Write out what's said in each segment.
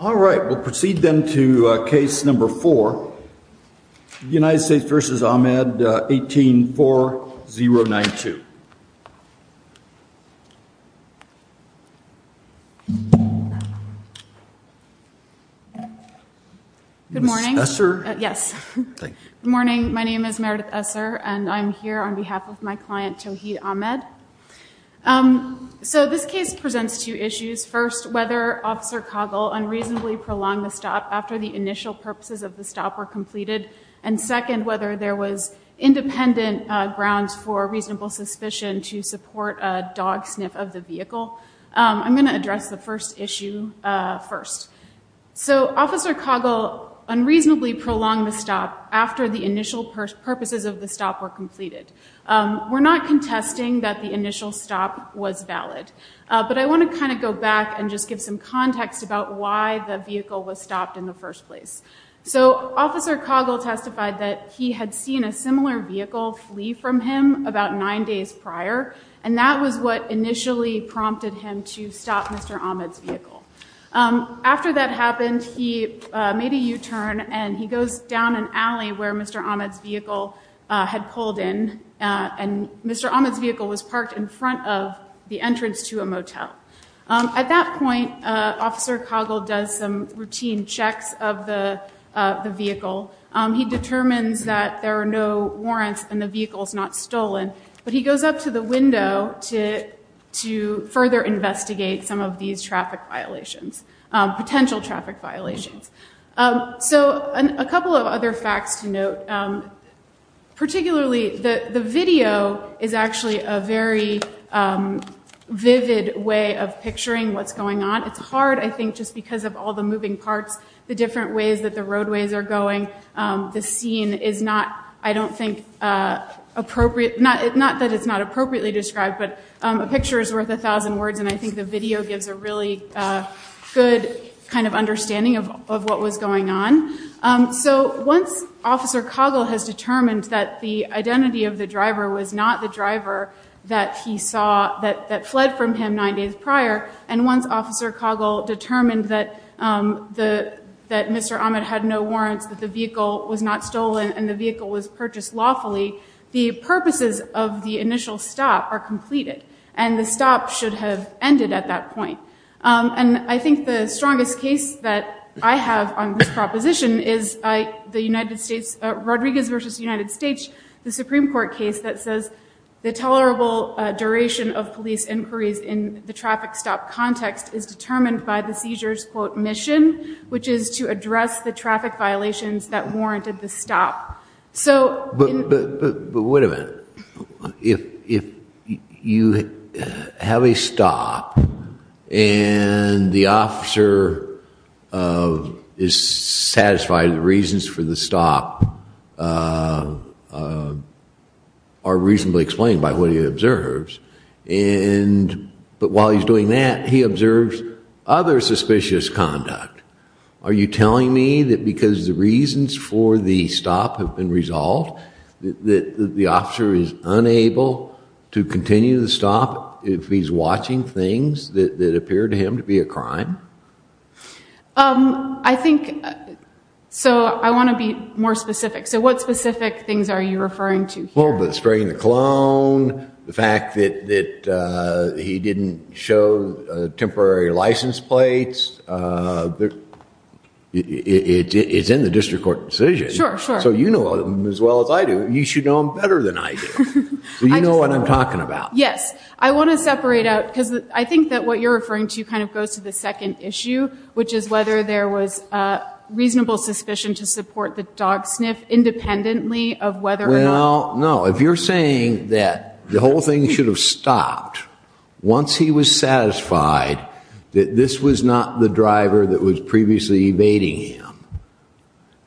All right, we'll proceed then to case number 4, United States v. Ahmed, 18-4-0-9-2. Good morning. Ms. Esser? Yes. Thank you. Good morning, my name is Meredith Esser, and I'm here on behalf of my client, Tawheed Ahmed. So this case presents two issues. First, whether Officer Coggle unreasonably prolonged the stop after the initial purposes of the stop were completed. And second, whether there was independent grounds for reasonable suspicion to support a dog sniff of the vehicle. I'm going to address the first issue first. So Officer Coggle unreasonably prolonged the stop after the initial purposes of the stop were completed. We're not contesting that the initial stop was valid. But I want to kind of go back and just give some context about why the vehicle was stopped in the first place. So Officer Coggle testified that he had seen a similar vehicle flee from him about nine days prior, and that was what initially prompted him to stop Mr. Ahmed's vehicle. After that happened, he made a U-turn and he goes down an alley where Mr. Ahmed's vehicle had pulled in. And Mr. Ahmed's vehicle was parked in front of the entrance to a motel. At that point, Officer Coggle does some routine checks of the vehicle. He determines that there are no warrants and the vehicle is not stolen. But he goes up to the window to further investigate some of these traffic violations, potential traffic violations. So a couple of other facts to note. Particularly, the video is actually a very vivid way of picturing what's going on. It's hard, I think, just because of all the moving parts, the different ways that the roadways are going. The scene is not, I don't think, appropriate. Not that it's not appropriately described, but a picture is worth a thousand words, and I think the video gives a really good kind of understanding of what was going on. So once Officer Coggle has determined that the identity of the driver was not the driver that he saw, that fled from him nine days prior, and once Officer Coggle determined that Mr. Ahmed had no warrants, that the vehicle was not stolen and the vehicle was purchased lawfully, the purposes of the initial stop are completed, and the stop should have ended at that point. And I think the strongest case that I have on this proposition is Rodriguez v. United States, the Supreme Court case that says the tolerable duration of police inquiries in the traffic stop context is determined by the seizure's, quote, mission, which is to address the traffic violations that warranted the stop. But wait a minute. If you have a stop and the officer is satisfied the reasons for the stop are reasonably explained by what he observes, but while he's doing that, he observes other suspicious conduct, are you telling me that because the reasons for the stop have been resolved, that the officer is unable to continue the stop if he's watching things that appear to him to be a crime? I think, so I want to be more specific. So what specific things are you referring to here? The fact that he didn't show temporary license plates. It's in the district court decision. Sure, sure. So you know them as well as I do. You should know them better than I do. So you know what I'm talking about. Yes. I want to separate out, because I think that what you're referring to kind of goes to the second issue, which is whether there was reasonable suspicion to support the dog sniff independently of whether or not if you're saying that the whole thing should have stopped once he was satisfied that this was not the driver that was previously evading him,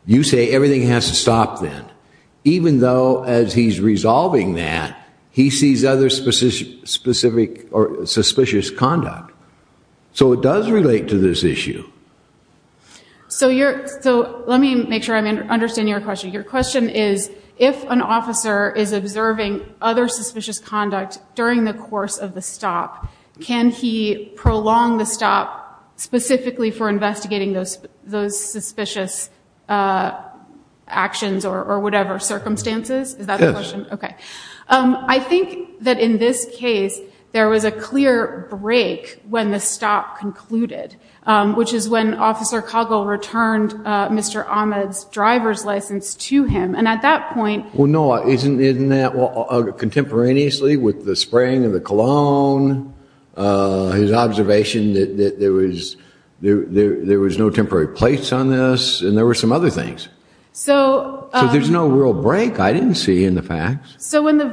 you say everything has to stop then, even though as he's resolving that, he sees other suspicious conduct. So it does relate to this issue. So let me make sure I understand your question. Your question is, if an officer is observing other suspicious conduct during the course of the stop, can he prolong the stop specifically for investigating those suspicious actions or whatever circumstances? Is that the question? Yes. Okay. I think that in this case, there was a clear break when the stop concluded, which is when Officer Coggle returned Mr. Ahmed's driver's license to him. And at that point- Well, no, isn't that contemporaneously with the spraying of the cologne, his observation that there was no temporary place on this, and there were some other things. So- So there's no real break I didn't see in the facts. So in the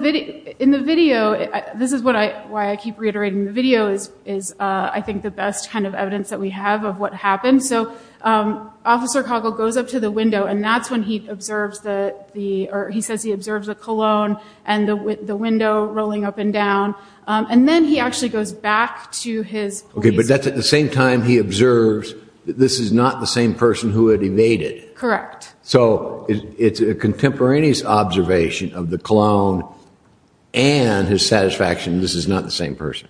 video, this is why I keep reiterating the video, is I think the best kind of evidence that we have of what happened. So Officer Coggle goes up to the window, and that's when he observes the- or he says he observes the cologne and the window rolling up and down. And then he actually goes back to his- Okay, but that's at the same time he observes that this is not the same person who had evaded. Correct. So it's a contemporaneous observation of the cologne and his satisfaction this is not the same person.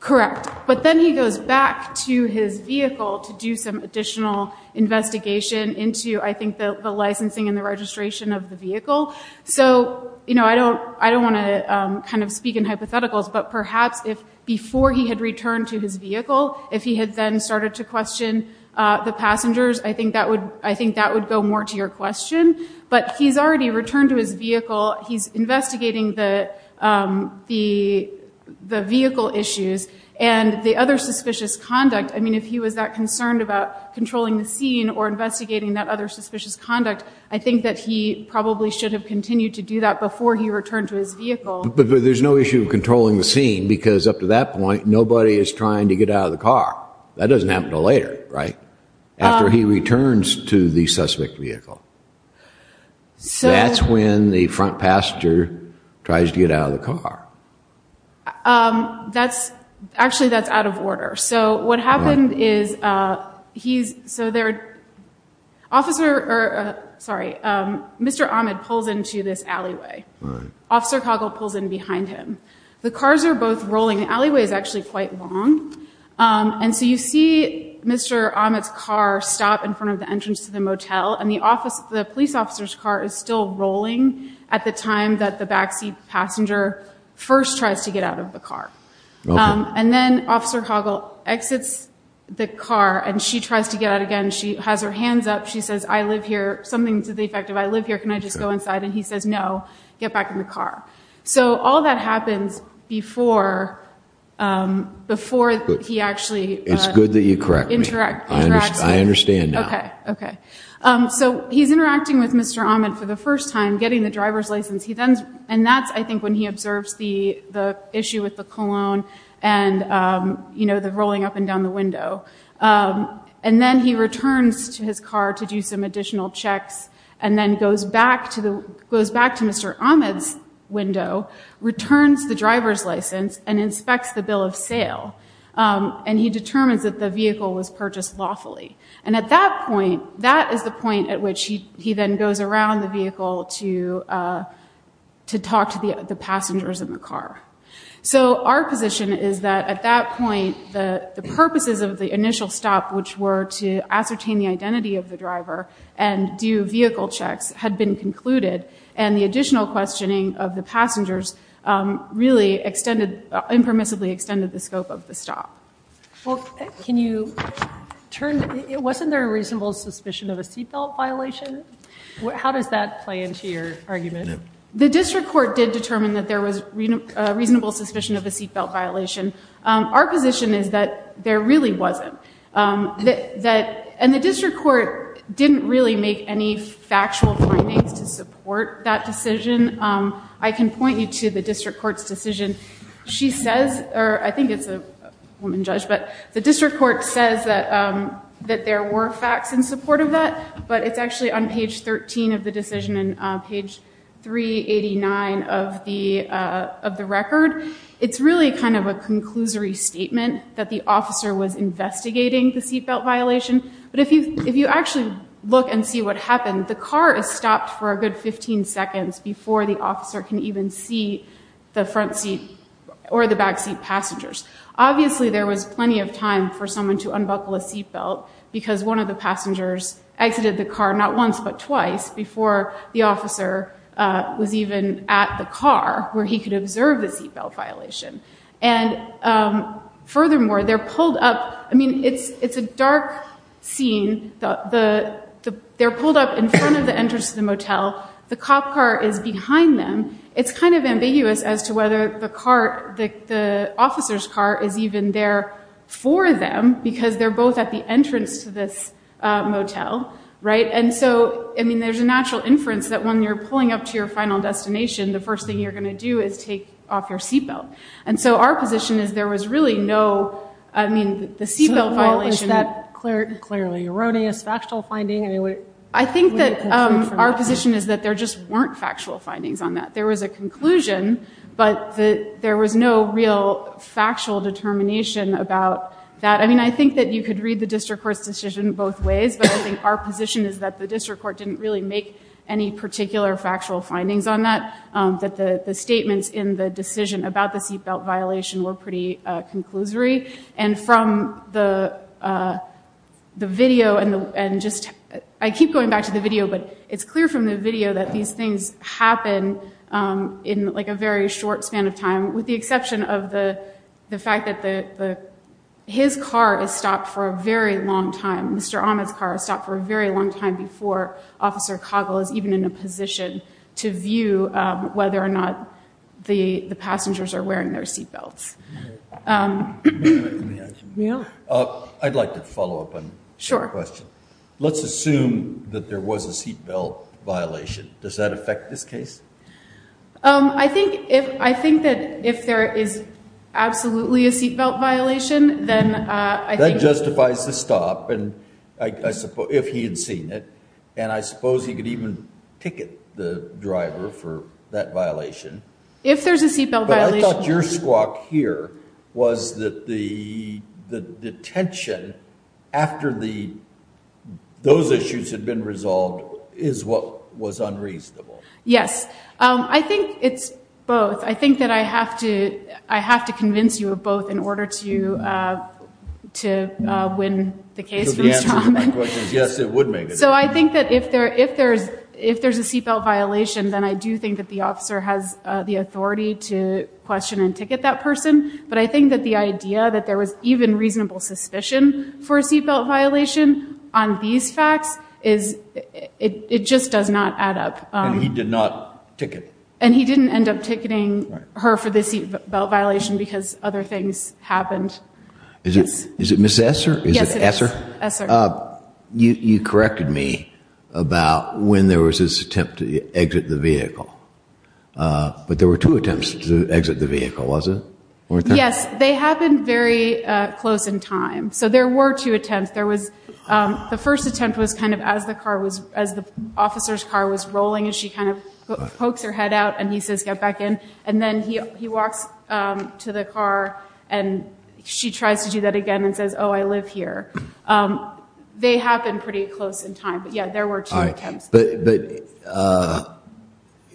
Correct. But then he goes back to his vehicle to do some additional investigation into, I think, the licensing and the registration of the vehicle. So, you know, I don't want to kind of speak in hypotheticals, but perhaps if before he had returned to his vehicle, if he had then started to question the passengers, I think that would go more to your question. But he's already returned to his vehicle. He's investigating the vehicle issues and the other suspicious conduct. I mean, if he was that concerned about controlling the scene or investigating that other suspicious conduct, I think that he probably should have continued to do that before he returned to his vehicle. But there's no issue of controlling the scene because up to that point, nobody is trying to get out of the car. That doesn't happen until later, right? After he returns to the suspect vehicle. That's when the front passenger tries to get out of the car. Actually, that's out of order. So what happened is he's- Sorry, Mr. Ahmed pulls into this alleyway. Officer Coggle pulls in behind him. The cars are both rolling. The alleyway is actually quite long. And so you see Mr. Ahmed's car stop in front of the entrance to the motel, and the police officer's car is still rolling at the time that the backseat passenger first tries to get out of the car. And then Officer Coggle exits the car, and she tries to get out again. She has her hands up. She says, I live here. Something to the effect of, I live here. Can I just go inside? And he says, no, get back in the car. So all that happens before he actually- It's good that you correct me. I understand now. Okay, okay. So he's interacting with Mr. Ahmed for the first time, getting the driver's license. And that's, I think, when he observes the issue with the cologne and the rolling up and down the window. And then he returns to his car to do some additional checks, and then goes back to Mr. Ahmed's window, returns the driver's license, and inspects the bill of sale. And he determines that the vehicle was purchased lawfully. And at that point, that is the point at which he then goes around the vehicle to talk to the passengers in the car. So our position is that at that point, the purposes of the initial stop, which were to ascertain the identity of the driver and do vehicle checks, had been concluded. And the additional questioning of the passengers really impermissibly extended the scope of the stop. Well, wasn't there a reasonable suspicion of a seat belt violation? How does that play into your argument? The district court did determine that there was a reasonable suspicion of a seat belt violation. Our position is that there really wasn't. And the district court didn't really make any factual findings to support that decision. I can point you to the district court's decision. She says, or I think it's a woman judge, but the district court says that there were facts in support of that. But it's actually on page 13 of the decision and page 389 of the record. It's really kind of a conclusory statement that the officer was investigating the seat belt violation. But if you actually look and see what happened, the car is stopped for a good 15 seconds before the officer can even see the front seat or the back seat passengers. Obviously, there was plenty of time for someone to unbuckle a seat belt because one of the passengers exited the car not once but twice before the officer was even at the car where he could observe the seat belt violation. And furthermore, they're pulled up. I mean, it's a dark scene. They're pulled up in front of the entrance to the motel. The cop car is behind them. It's kind of ambiguous as to whether the officer's car is even there for them because they're both at the entrance to this motel, right? And so, I mean, there's a natural inference that when you're pulling up to your final destination, the first thing you're going to do is take off your seat belt. And so our position is there was really no, I mean, the seat belt violation. So it wasn't that clearly erroneous factual finding? I think that our position is that there just weren't factual findings on that. There was a conclusion, but there was no real factual determination about that. I mean, I think that you could read the district court's decision both ways, but I think our position is that the district court didn't really make any particular factual findings on that, that the statements in the decision about the seat belt violation were pretty conclusory. And from the video and just, I keep going back to the video, but it's clear from the video that these things happen in like a very short span of time with the exception of the fact that his car is stopped for a very long time. Mr. Ahmed's car is stopped for a very long time before Officer Coggle is even in a position to view whether or not the passengers are wearing their seat belts. I'd like to follow up on your question. Let's assume that there was a seat belt violation. Does that affect this case? I think that if there is absolutely a seat belt violation, then I think... That justifies the stop, if he had seen it. And I suppose he could even ticket the driver for that violation. If there's a seat belt violation... But I thought your squawk here was that the detention after those issues had been resolved is what was unreasonable. Yes. I think it's both. I think that I have to convince you of both in order to win the case for Mr. Ahmed. So the answer to my question is yes, it would make a difference. So I think that if there's a seat belt violation, then I do think that the officer has the authority to question and ticket that person. But I think that the idea that there was even reasonable suspicion for a seat belt violation on these facts, it just does not add up. And he did not ticket. And he didn't end up ticketing her for the seat belt violation because other things happened. Is it Ms. Esser? Yes, it is. You corrected me about when there was this attempt to exit the vehicle. But there were two attempts to exit the vehicle, wasn't there? Yes. They happened very close in time. So there were two attempts. The first attempt was kind of as the officer's car was rolling and she kind of pokes her head out and he says, get back in. And then he walks to the car and she tries to do that again and says, oh, I live here. They happened pretty close in time. But, yeah, there were two attempts. But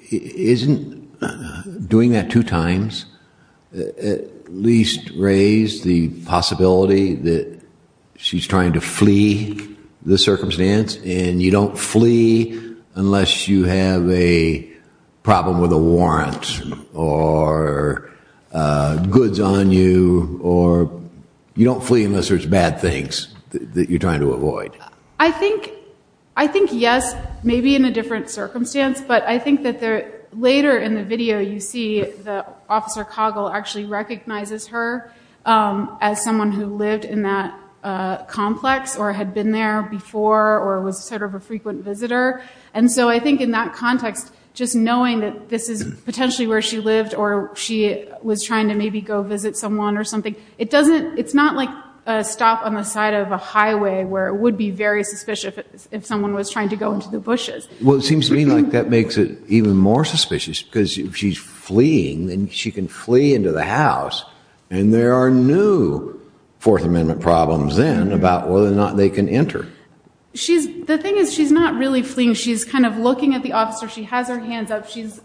isn't doing that two times at least raise the possibility that she's trying to flee the circumstance and you don't flee unless you have a problem with a warrant or goods on you or you don't flee unless there's bad things that you're trying to avoid? I think yes, maybe in a different circumstance. But I think that later in the video you see that Officer Coggle actually recognizes her as someone who lived in that complex or had been there before or was sort of a frequent visitor. And so I think in that context, just knowing that this is potentially where she lived or she was trying to maybe go visit someone or something, it's not like a stop on the side of a highway where it would be very suspicious if someone was trying to go into the bushes. Well, it seems to me like that makes it even more suspicious because if she's fleeing, then she can flee into the house. And there are new Fourth Amendment problems then about whether or not they can enter. The thing is she's not really fleeing. She's kind of looking at the officer. She has her hands up. She's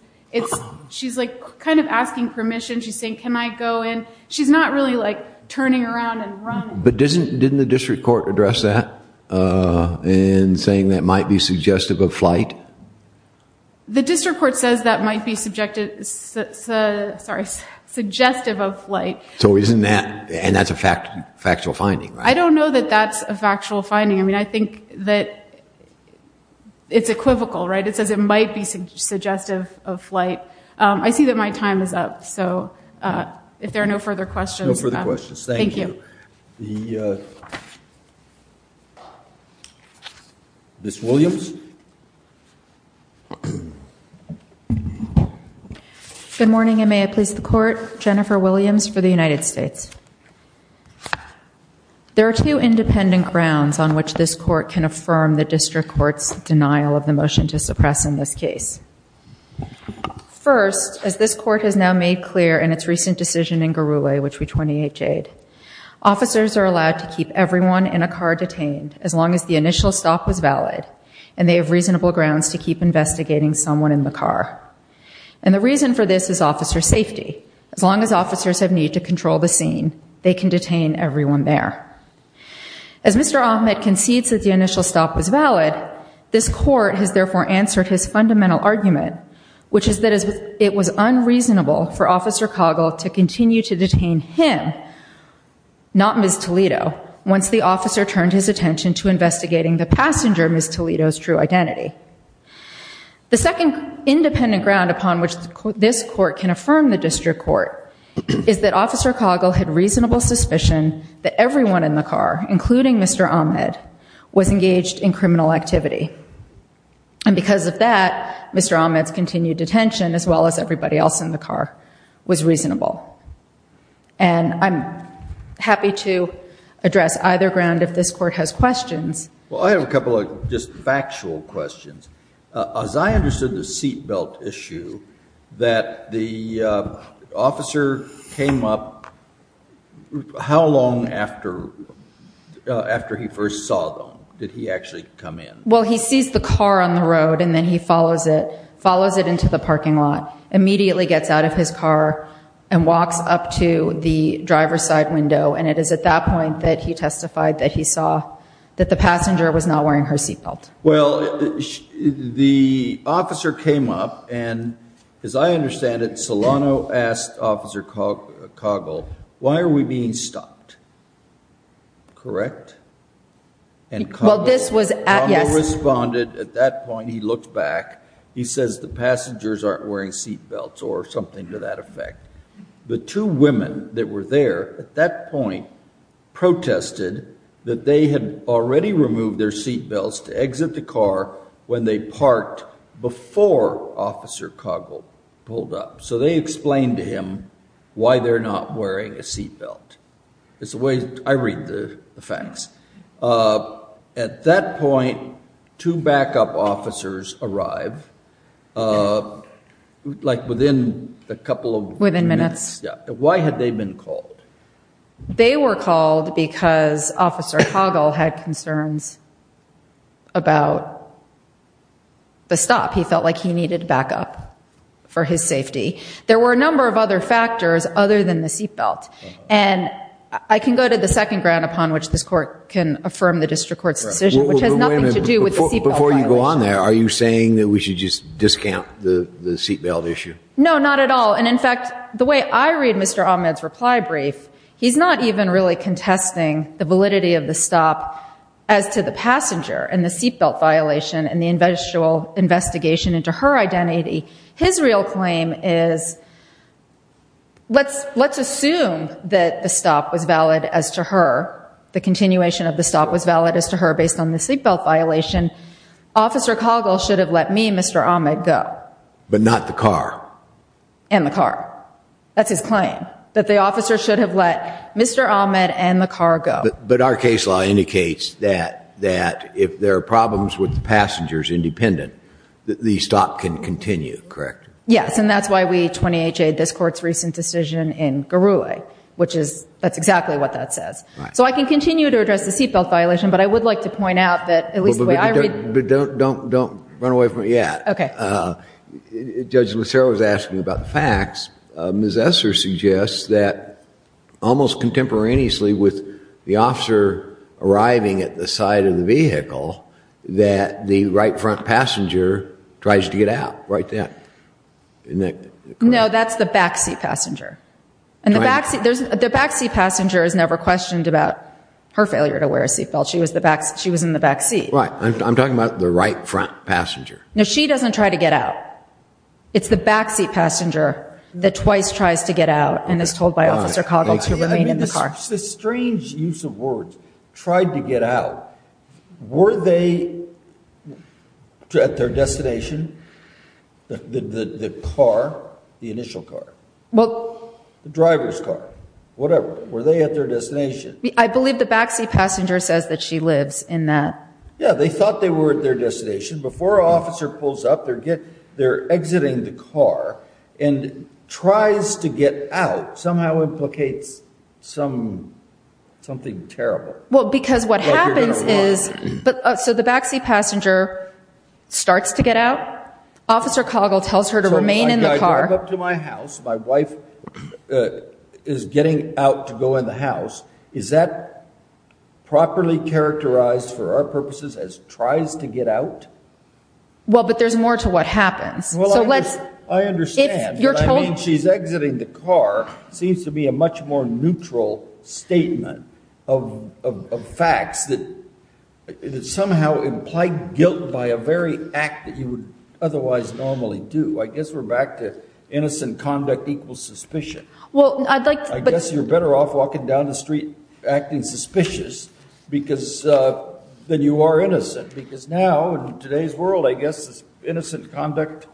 kind of asking permission. She's saying, can I go in? She's not really like turning around and running. But didn't the district court address that in saying that might be suggestive of flight? The district court says that might be suggestive of flight. So isn't that, and that's a factual finding, right? I don't know that that's a factual finding. I mean, I think that it's equivocal, right? It says it might be suggestive of flight. But I see that my time is up. So if there are no further questions. No further questions. Thank you. Thank you. Ms. Williams. Good morning, and may I please the court. Jennifer Williams for the United States. There are two independent grounds on which this court can affirm the district court's denial of the motion to suppress in this case. First, as this court has now made clear in its recent decision in Garulay, which we 28 Jade, officers are allowed to keep everyone in a car detained as long as the initial stop was valid, and they have reasonable grounds to keep investigating someone in the car. And the reason for this is officer safety. As long as officers have need to control the scene, they can detain everyone there. As Mr. Ahmed concedes that the initial stop was valid, this court has therefore answered his fundamental argument, which is that it was unreasonable for Officer Coggle to continue to detain him, not Ms. Toledo, once the officer turned his attention to investigating the passenger, Ms. Toledo's true identity. The second independent ground upon which this court can affirm the district court is that Officer Coggle had reasonable suspicion that everyone in the car, including Mr. Ahmed, was engaged in criminal activity. And because of that, Mr. Ahmed's continued detention, as well as everybody else in the car, was reasonable. And I'm happy to address either ground if this court has questions. Well, I have a couple of just factual questions. As I understood the seat belt issue, that the officer came up how long after he first saw them? Did he actually come in? Well, he sees the car on the road and then he follows it, follows it into the parking lot, immediately gets out of his car and walks up to the driver's side window. And it is at that point that he testified that he saw that the passenger was not wearing her seat belt. Well, the officer came up and, as I understand it, Solano asked Officer Coggle, why are we being stopped? Correct? And Coggle responded at that point, he looked back, he says the passengers aren't wearing seat belts or something to that effect. The two women that were there at that point protested that they had already removed their seat belts to exit the car when they parked before Officer Coggle pulled up. So they explained to him why they're not wearing a seat belt. It's the way I read the facts. At that point, two backup officers arrive, like within a couple of minutes. Within minutes. Why had they been called? They were called because Officer Coggle had concerns about the stop. He felt like he needed backup for his safety. There were a number of other factors other than the seat belt. And I can go to the second ground upon which this Court can affirm the District Court's decision, which has nothing to do with the seat belt violation. Before you go on there, are you saying that we should just discount the seat belt issue? No, not at all. And, in fact, the way I read Mr. Ahmed's reply brief, he's not even really contesting the validity of the stop as to the passenger and the seat belt violation and the investigation into her identity. His real claim is, let's assume that the stop was valid as to her, the continuation of the stop was valid as to her based on the seat belt violation. Officer Coggle should have let me and Mr. Ahmed go. But not the car. And the car. That's his claim. That the officer should have let Mr. Ahmed and the car go. But our case law indicates that if there are problems with the passengers independent, the stop can continue, correct? Yes, and that's why we 20HA'd this Court's recent decision in Garouet, which is exactly what that says. So I can continue to address the seat belt violation, but I would like to point out that at least the way I read But don't run away from it yet. Okay. Judge Lucero was asking about the facts. Ms. Esser suggests that almost contemporaneously with the officer arriving at the side of the vehicle, that the right front passenger tries to get out right then. No, that's the back seat passenger. And the back seat passenger is never questioned about her failure to wear a seat belt. She was in the back seat. Right. I'm talking about the right front passenger. No, she doesn't try to get out. It's the back seat passenger that twice tries to get out and is told by Officer Coggle to remain in the car. The strange use of words, tried to get out. Were they at their destination? The car, the initial car. Well. The driver's car, whatever. Were they at their destination? I believe the back seat passenger says that she lives in that. Yeah, they thought they were at their destination. Before an officer pulls up, they're exiting the car and tries to get out somehow implicates something terrible. Well, because what happens is, so the back seat passenger starts to get out. Officer Coggle tells her to remain in the car. So I drive up to my house. My wife is getting out to go in the house. Is that properly characterized for our purposes as tries to get out? Well, but there's more to what happens. I understand, but I mean she's exiting the car seems to be a much more neutral statement of facts that somehow imply guilt by a very act that you would otherwise normally do. I guess we're back to innocent conduct equals suspicion. I guess you're better off walking down the street acting suspicious than you are innocent. Because now, in today's world, I guess innocent conduct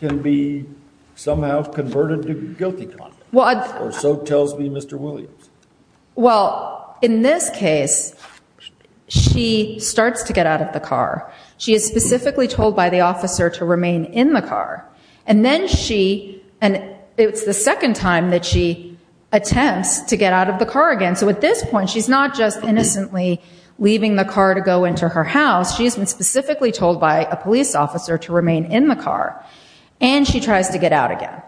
can be somehow converted to guilty conduct. Or so tells me Mr. Williams. Well, in this case, she starts to get out of the car. She is specifically told by the officer to remain in the car. And then she, and it's the second time that she attempts to get out of the car again. So at this point, she's not just innocently leaving the car to go into her house. She's been specifically told by a police officer to remain in the car. And she tries to get out again.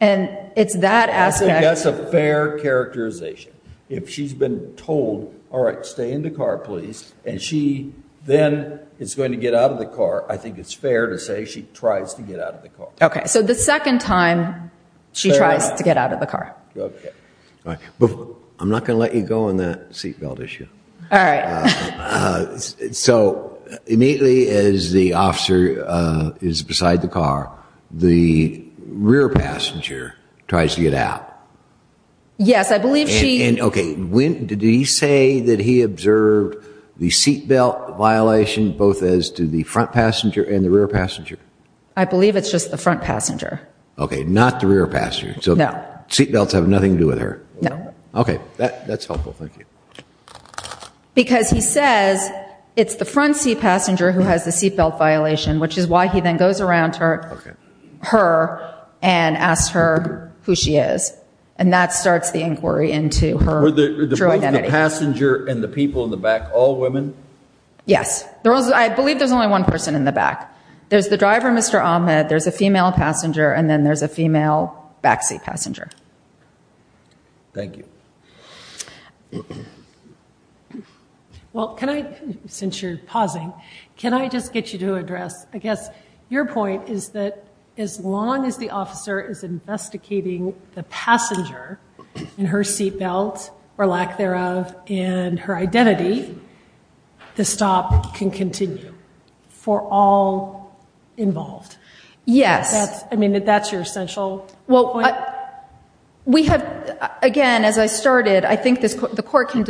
And it's that aspect. I think that's a fair characterization. If she's been told, all right, stay in the car please. And she then is going to get out of the car. I think it's fair to say she tries to get out of the car. Okay, so the second time she tries to get out of the car. Okay. I'm not going to let you go on that seat belt issue. All right. So immediately as the officer is beside the car, the rear passenger tries to get out. Yes, I believe she. And, okay, did he say that he observed the seat belt violation both as to the front passenger and the rear passenger? I believe it's just the front passenger. Okay, not the rear passenger. No. So seat belts have nothing to do with her. No. Okay, that's helpful. Thank you. Because he says it's the front seat passenger who has the seat belt violation, which is why he then goes around her and asks her who she is. And that starts the inquiry into her true identity. Was the passenger and the people in the back all women? Yes. I believe there's only one person in the back. There's the driver, Mr. Ahmed, there's a female passenger, and then there's a female backseat passenger. Thank you. Well, can I, since you're pausing, can I just get you to address, I guess, your point is that as long as the officer is investigating the passenger and her seat belt, or lack thereof, and her identity, the stop can continue for all involved. Yes. I mean, that's your essential point. We have, again, as I started, I think the court can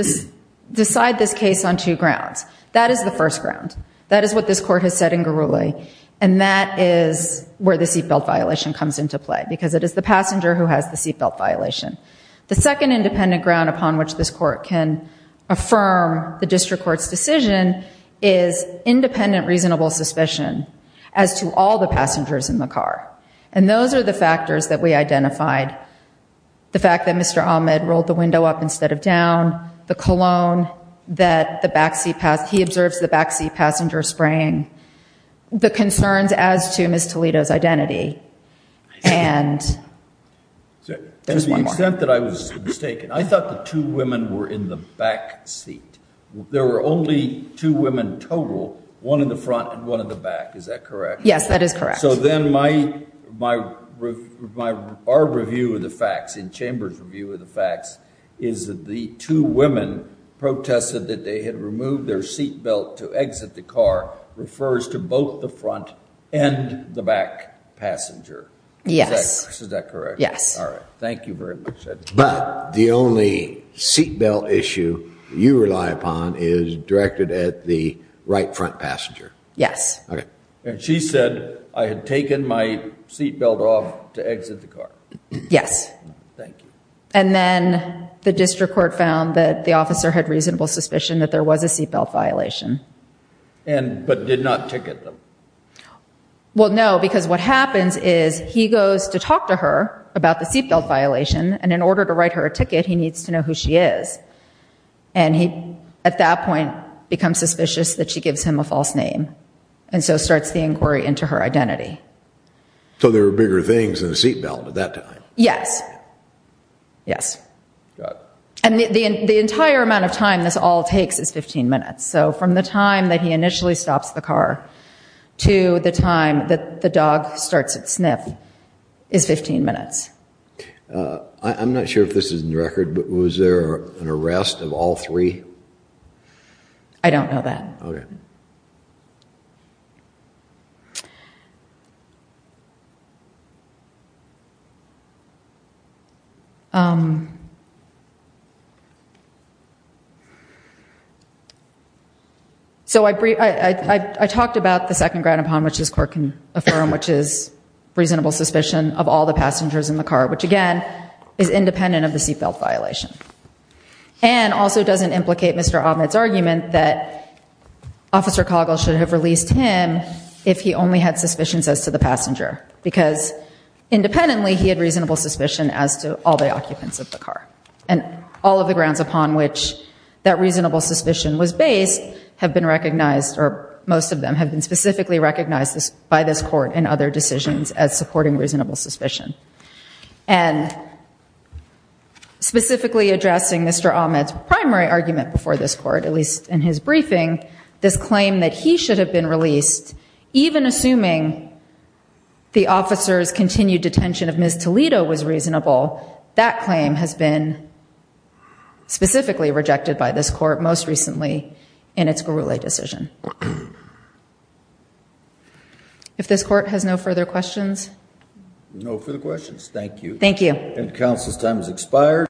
decide this case on two grounds. That is the first ground. That is what this court has said in Guruli. And that is where the seat belt violation comes into play, because it is the passenger who has the seat belt violation. The second independent ground upon which this court can affirm the district court's decision is independent reasonable suspicion as to all the passengers in the car. And those are the factors that we identified. The fact that Mr. Ahmed rolled the window up instead of down. The cologne that he observes the backseat passenger spraying. The concerns as to Ms. Toledo's identity. To the extent that I was mistaken, I thought the two women were in the backseat. There were only two women total, one in the front and one in the back. Is that correct? Yes, that is correct. So then our review of the facts, in chamber's review of the facts, is that the two women protested that they had removed their seat belt to exit the car refers to both the front and the back passenger. Yes. Is that correct? Yes. All right. Thank you very much. But the only seat belt issue you rely upon is directed at the right front passenger. Yes. And she said, I had taken my seat belt off to exit the car. Yes. Thank you. And then the district court found that the officer had reasonable suspicion that there was a seat belt violation. But did not ticket them. Well, no, because what happens is he goes to talk to her about the seat belt violation, and in order to write her a ticket, he needs to know who she is. And he, at that point, becomes suspicious that she gives him a false name and so starts the inquiry into her identity. So there were bigger things than the seat belt at that time. Yes. Yes. And the entire amount of time this all takes is 15 minutes. So from the time that he initially stops the car to the time that the dog starts to sniff is 15 minutes. I'm not sure if this is in the record, but was there an arrest of all three? I don't know that. Okay. So I talked about the second ground upon which this court can affirm, which is reasonable suspicion of all the passengers in the car, which, again, is independent of the seat belt violation. And also doesn't implicate Mr. Ahmed's argument that Officer Coggle should have released him if he only had suspicions as to the passenger. Because independently, he had reasonable suspicion as to all the occupants of the car. And all of the grounds upon which that reasonable suspicion was based have been recognized, or most of them have been specifically recognized by this court and other decisions as supporting reasonable suspicion. And specifically addressing Mr. Ahmed's primary argument before this court, at least in his briefing, this claim that he should have been released, even assuming the officer's continued detention of Ms. Toledo was reasonable, that claim has been specifically rejected by this court, most recently, in its Gurule decision. If this court has no further questions? No further questions. Thank you. Thank you. And the counsel's time has expired.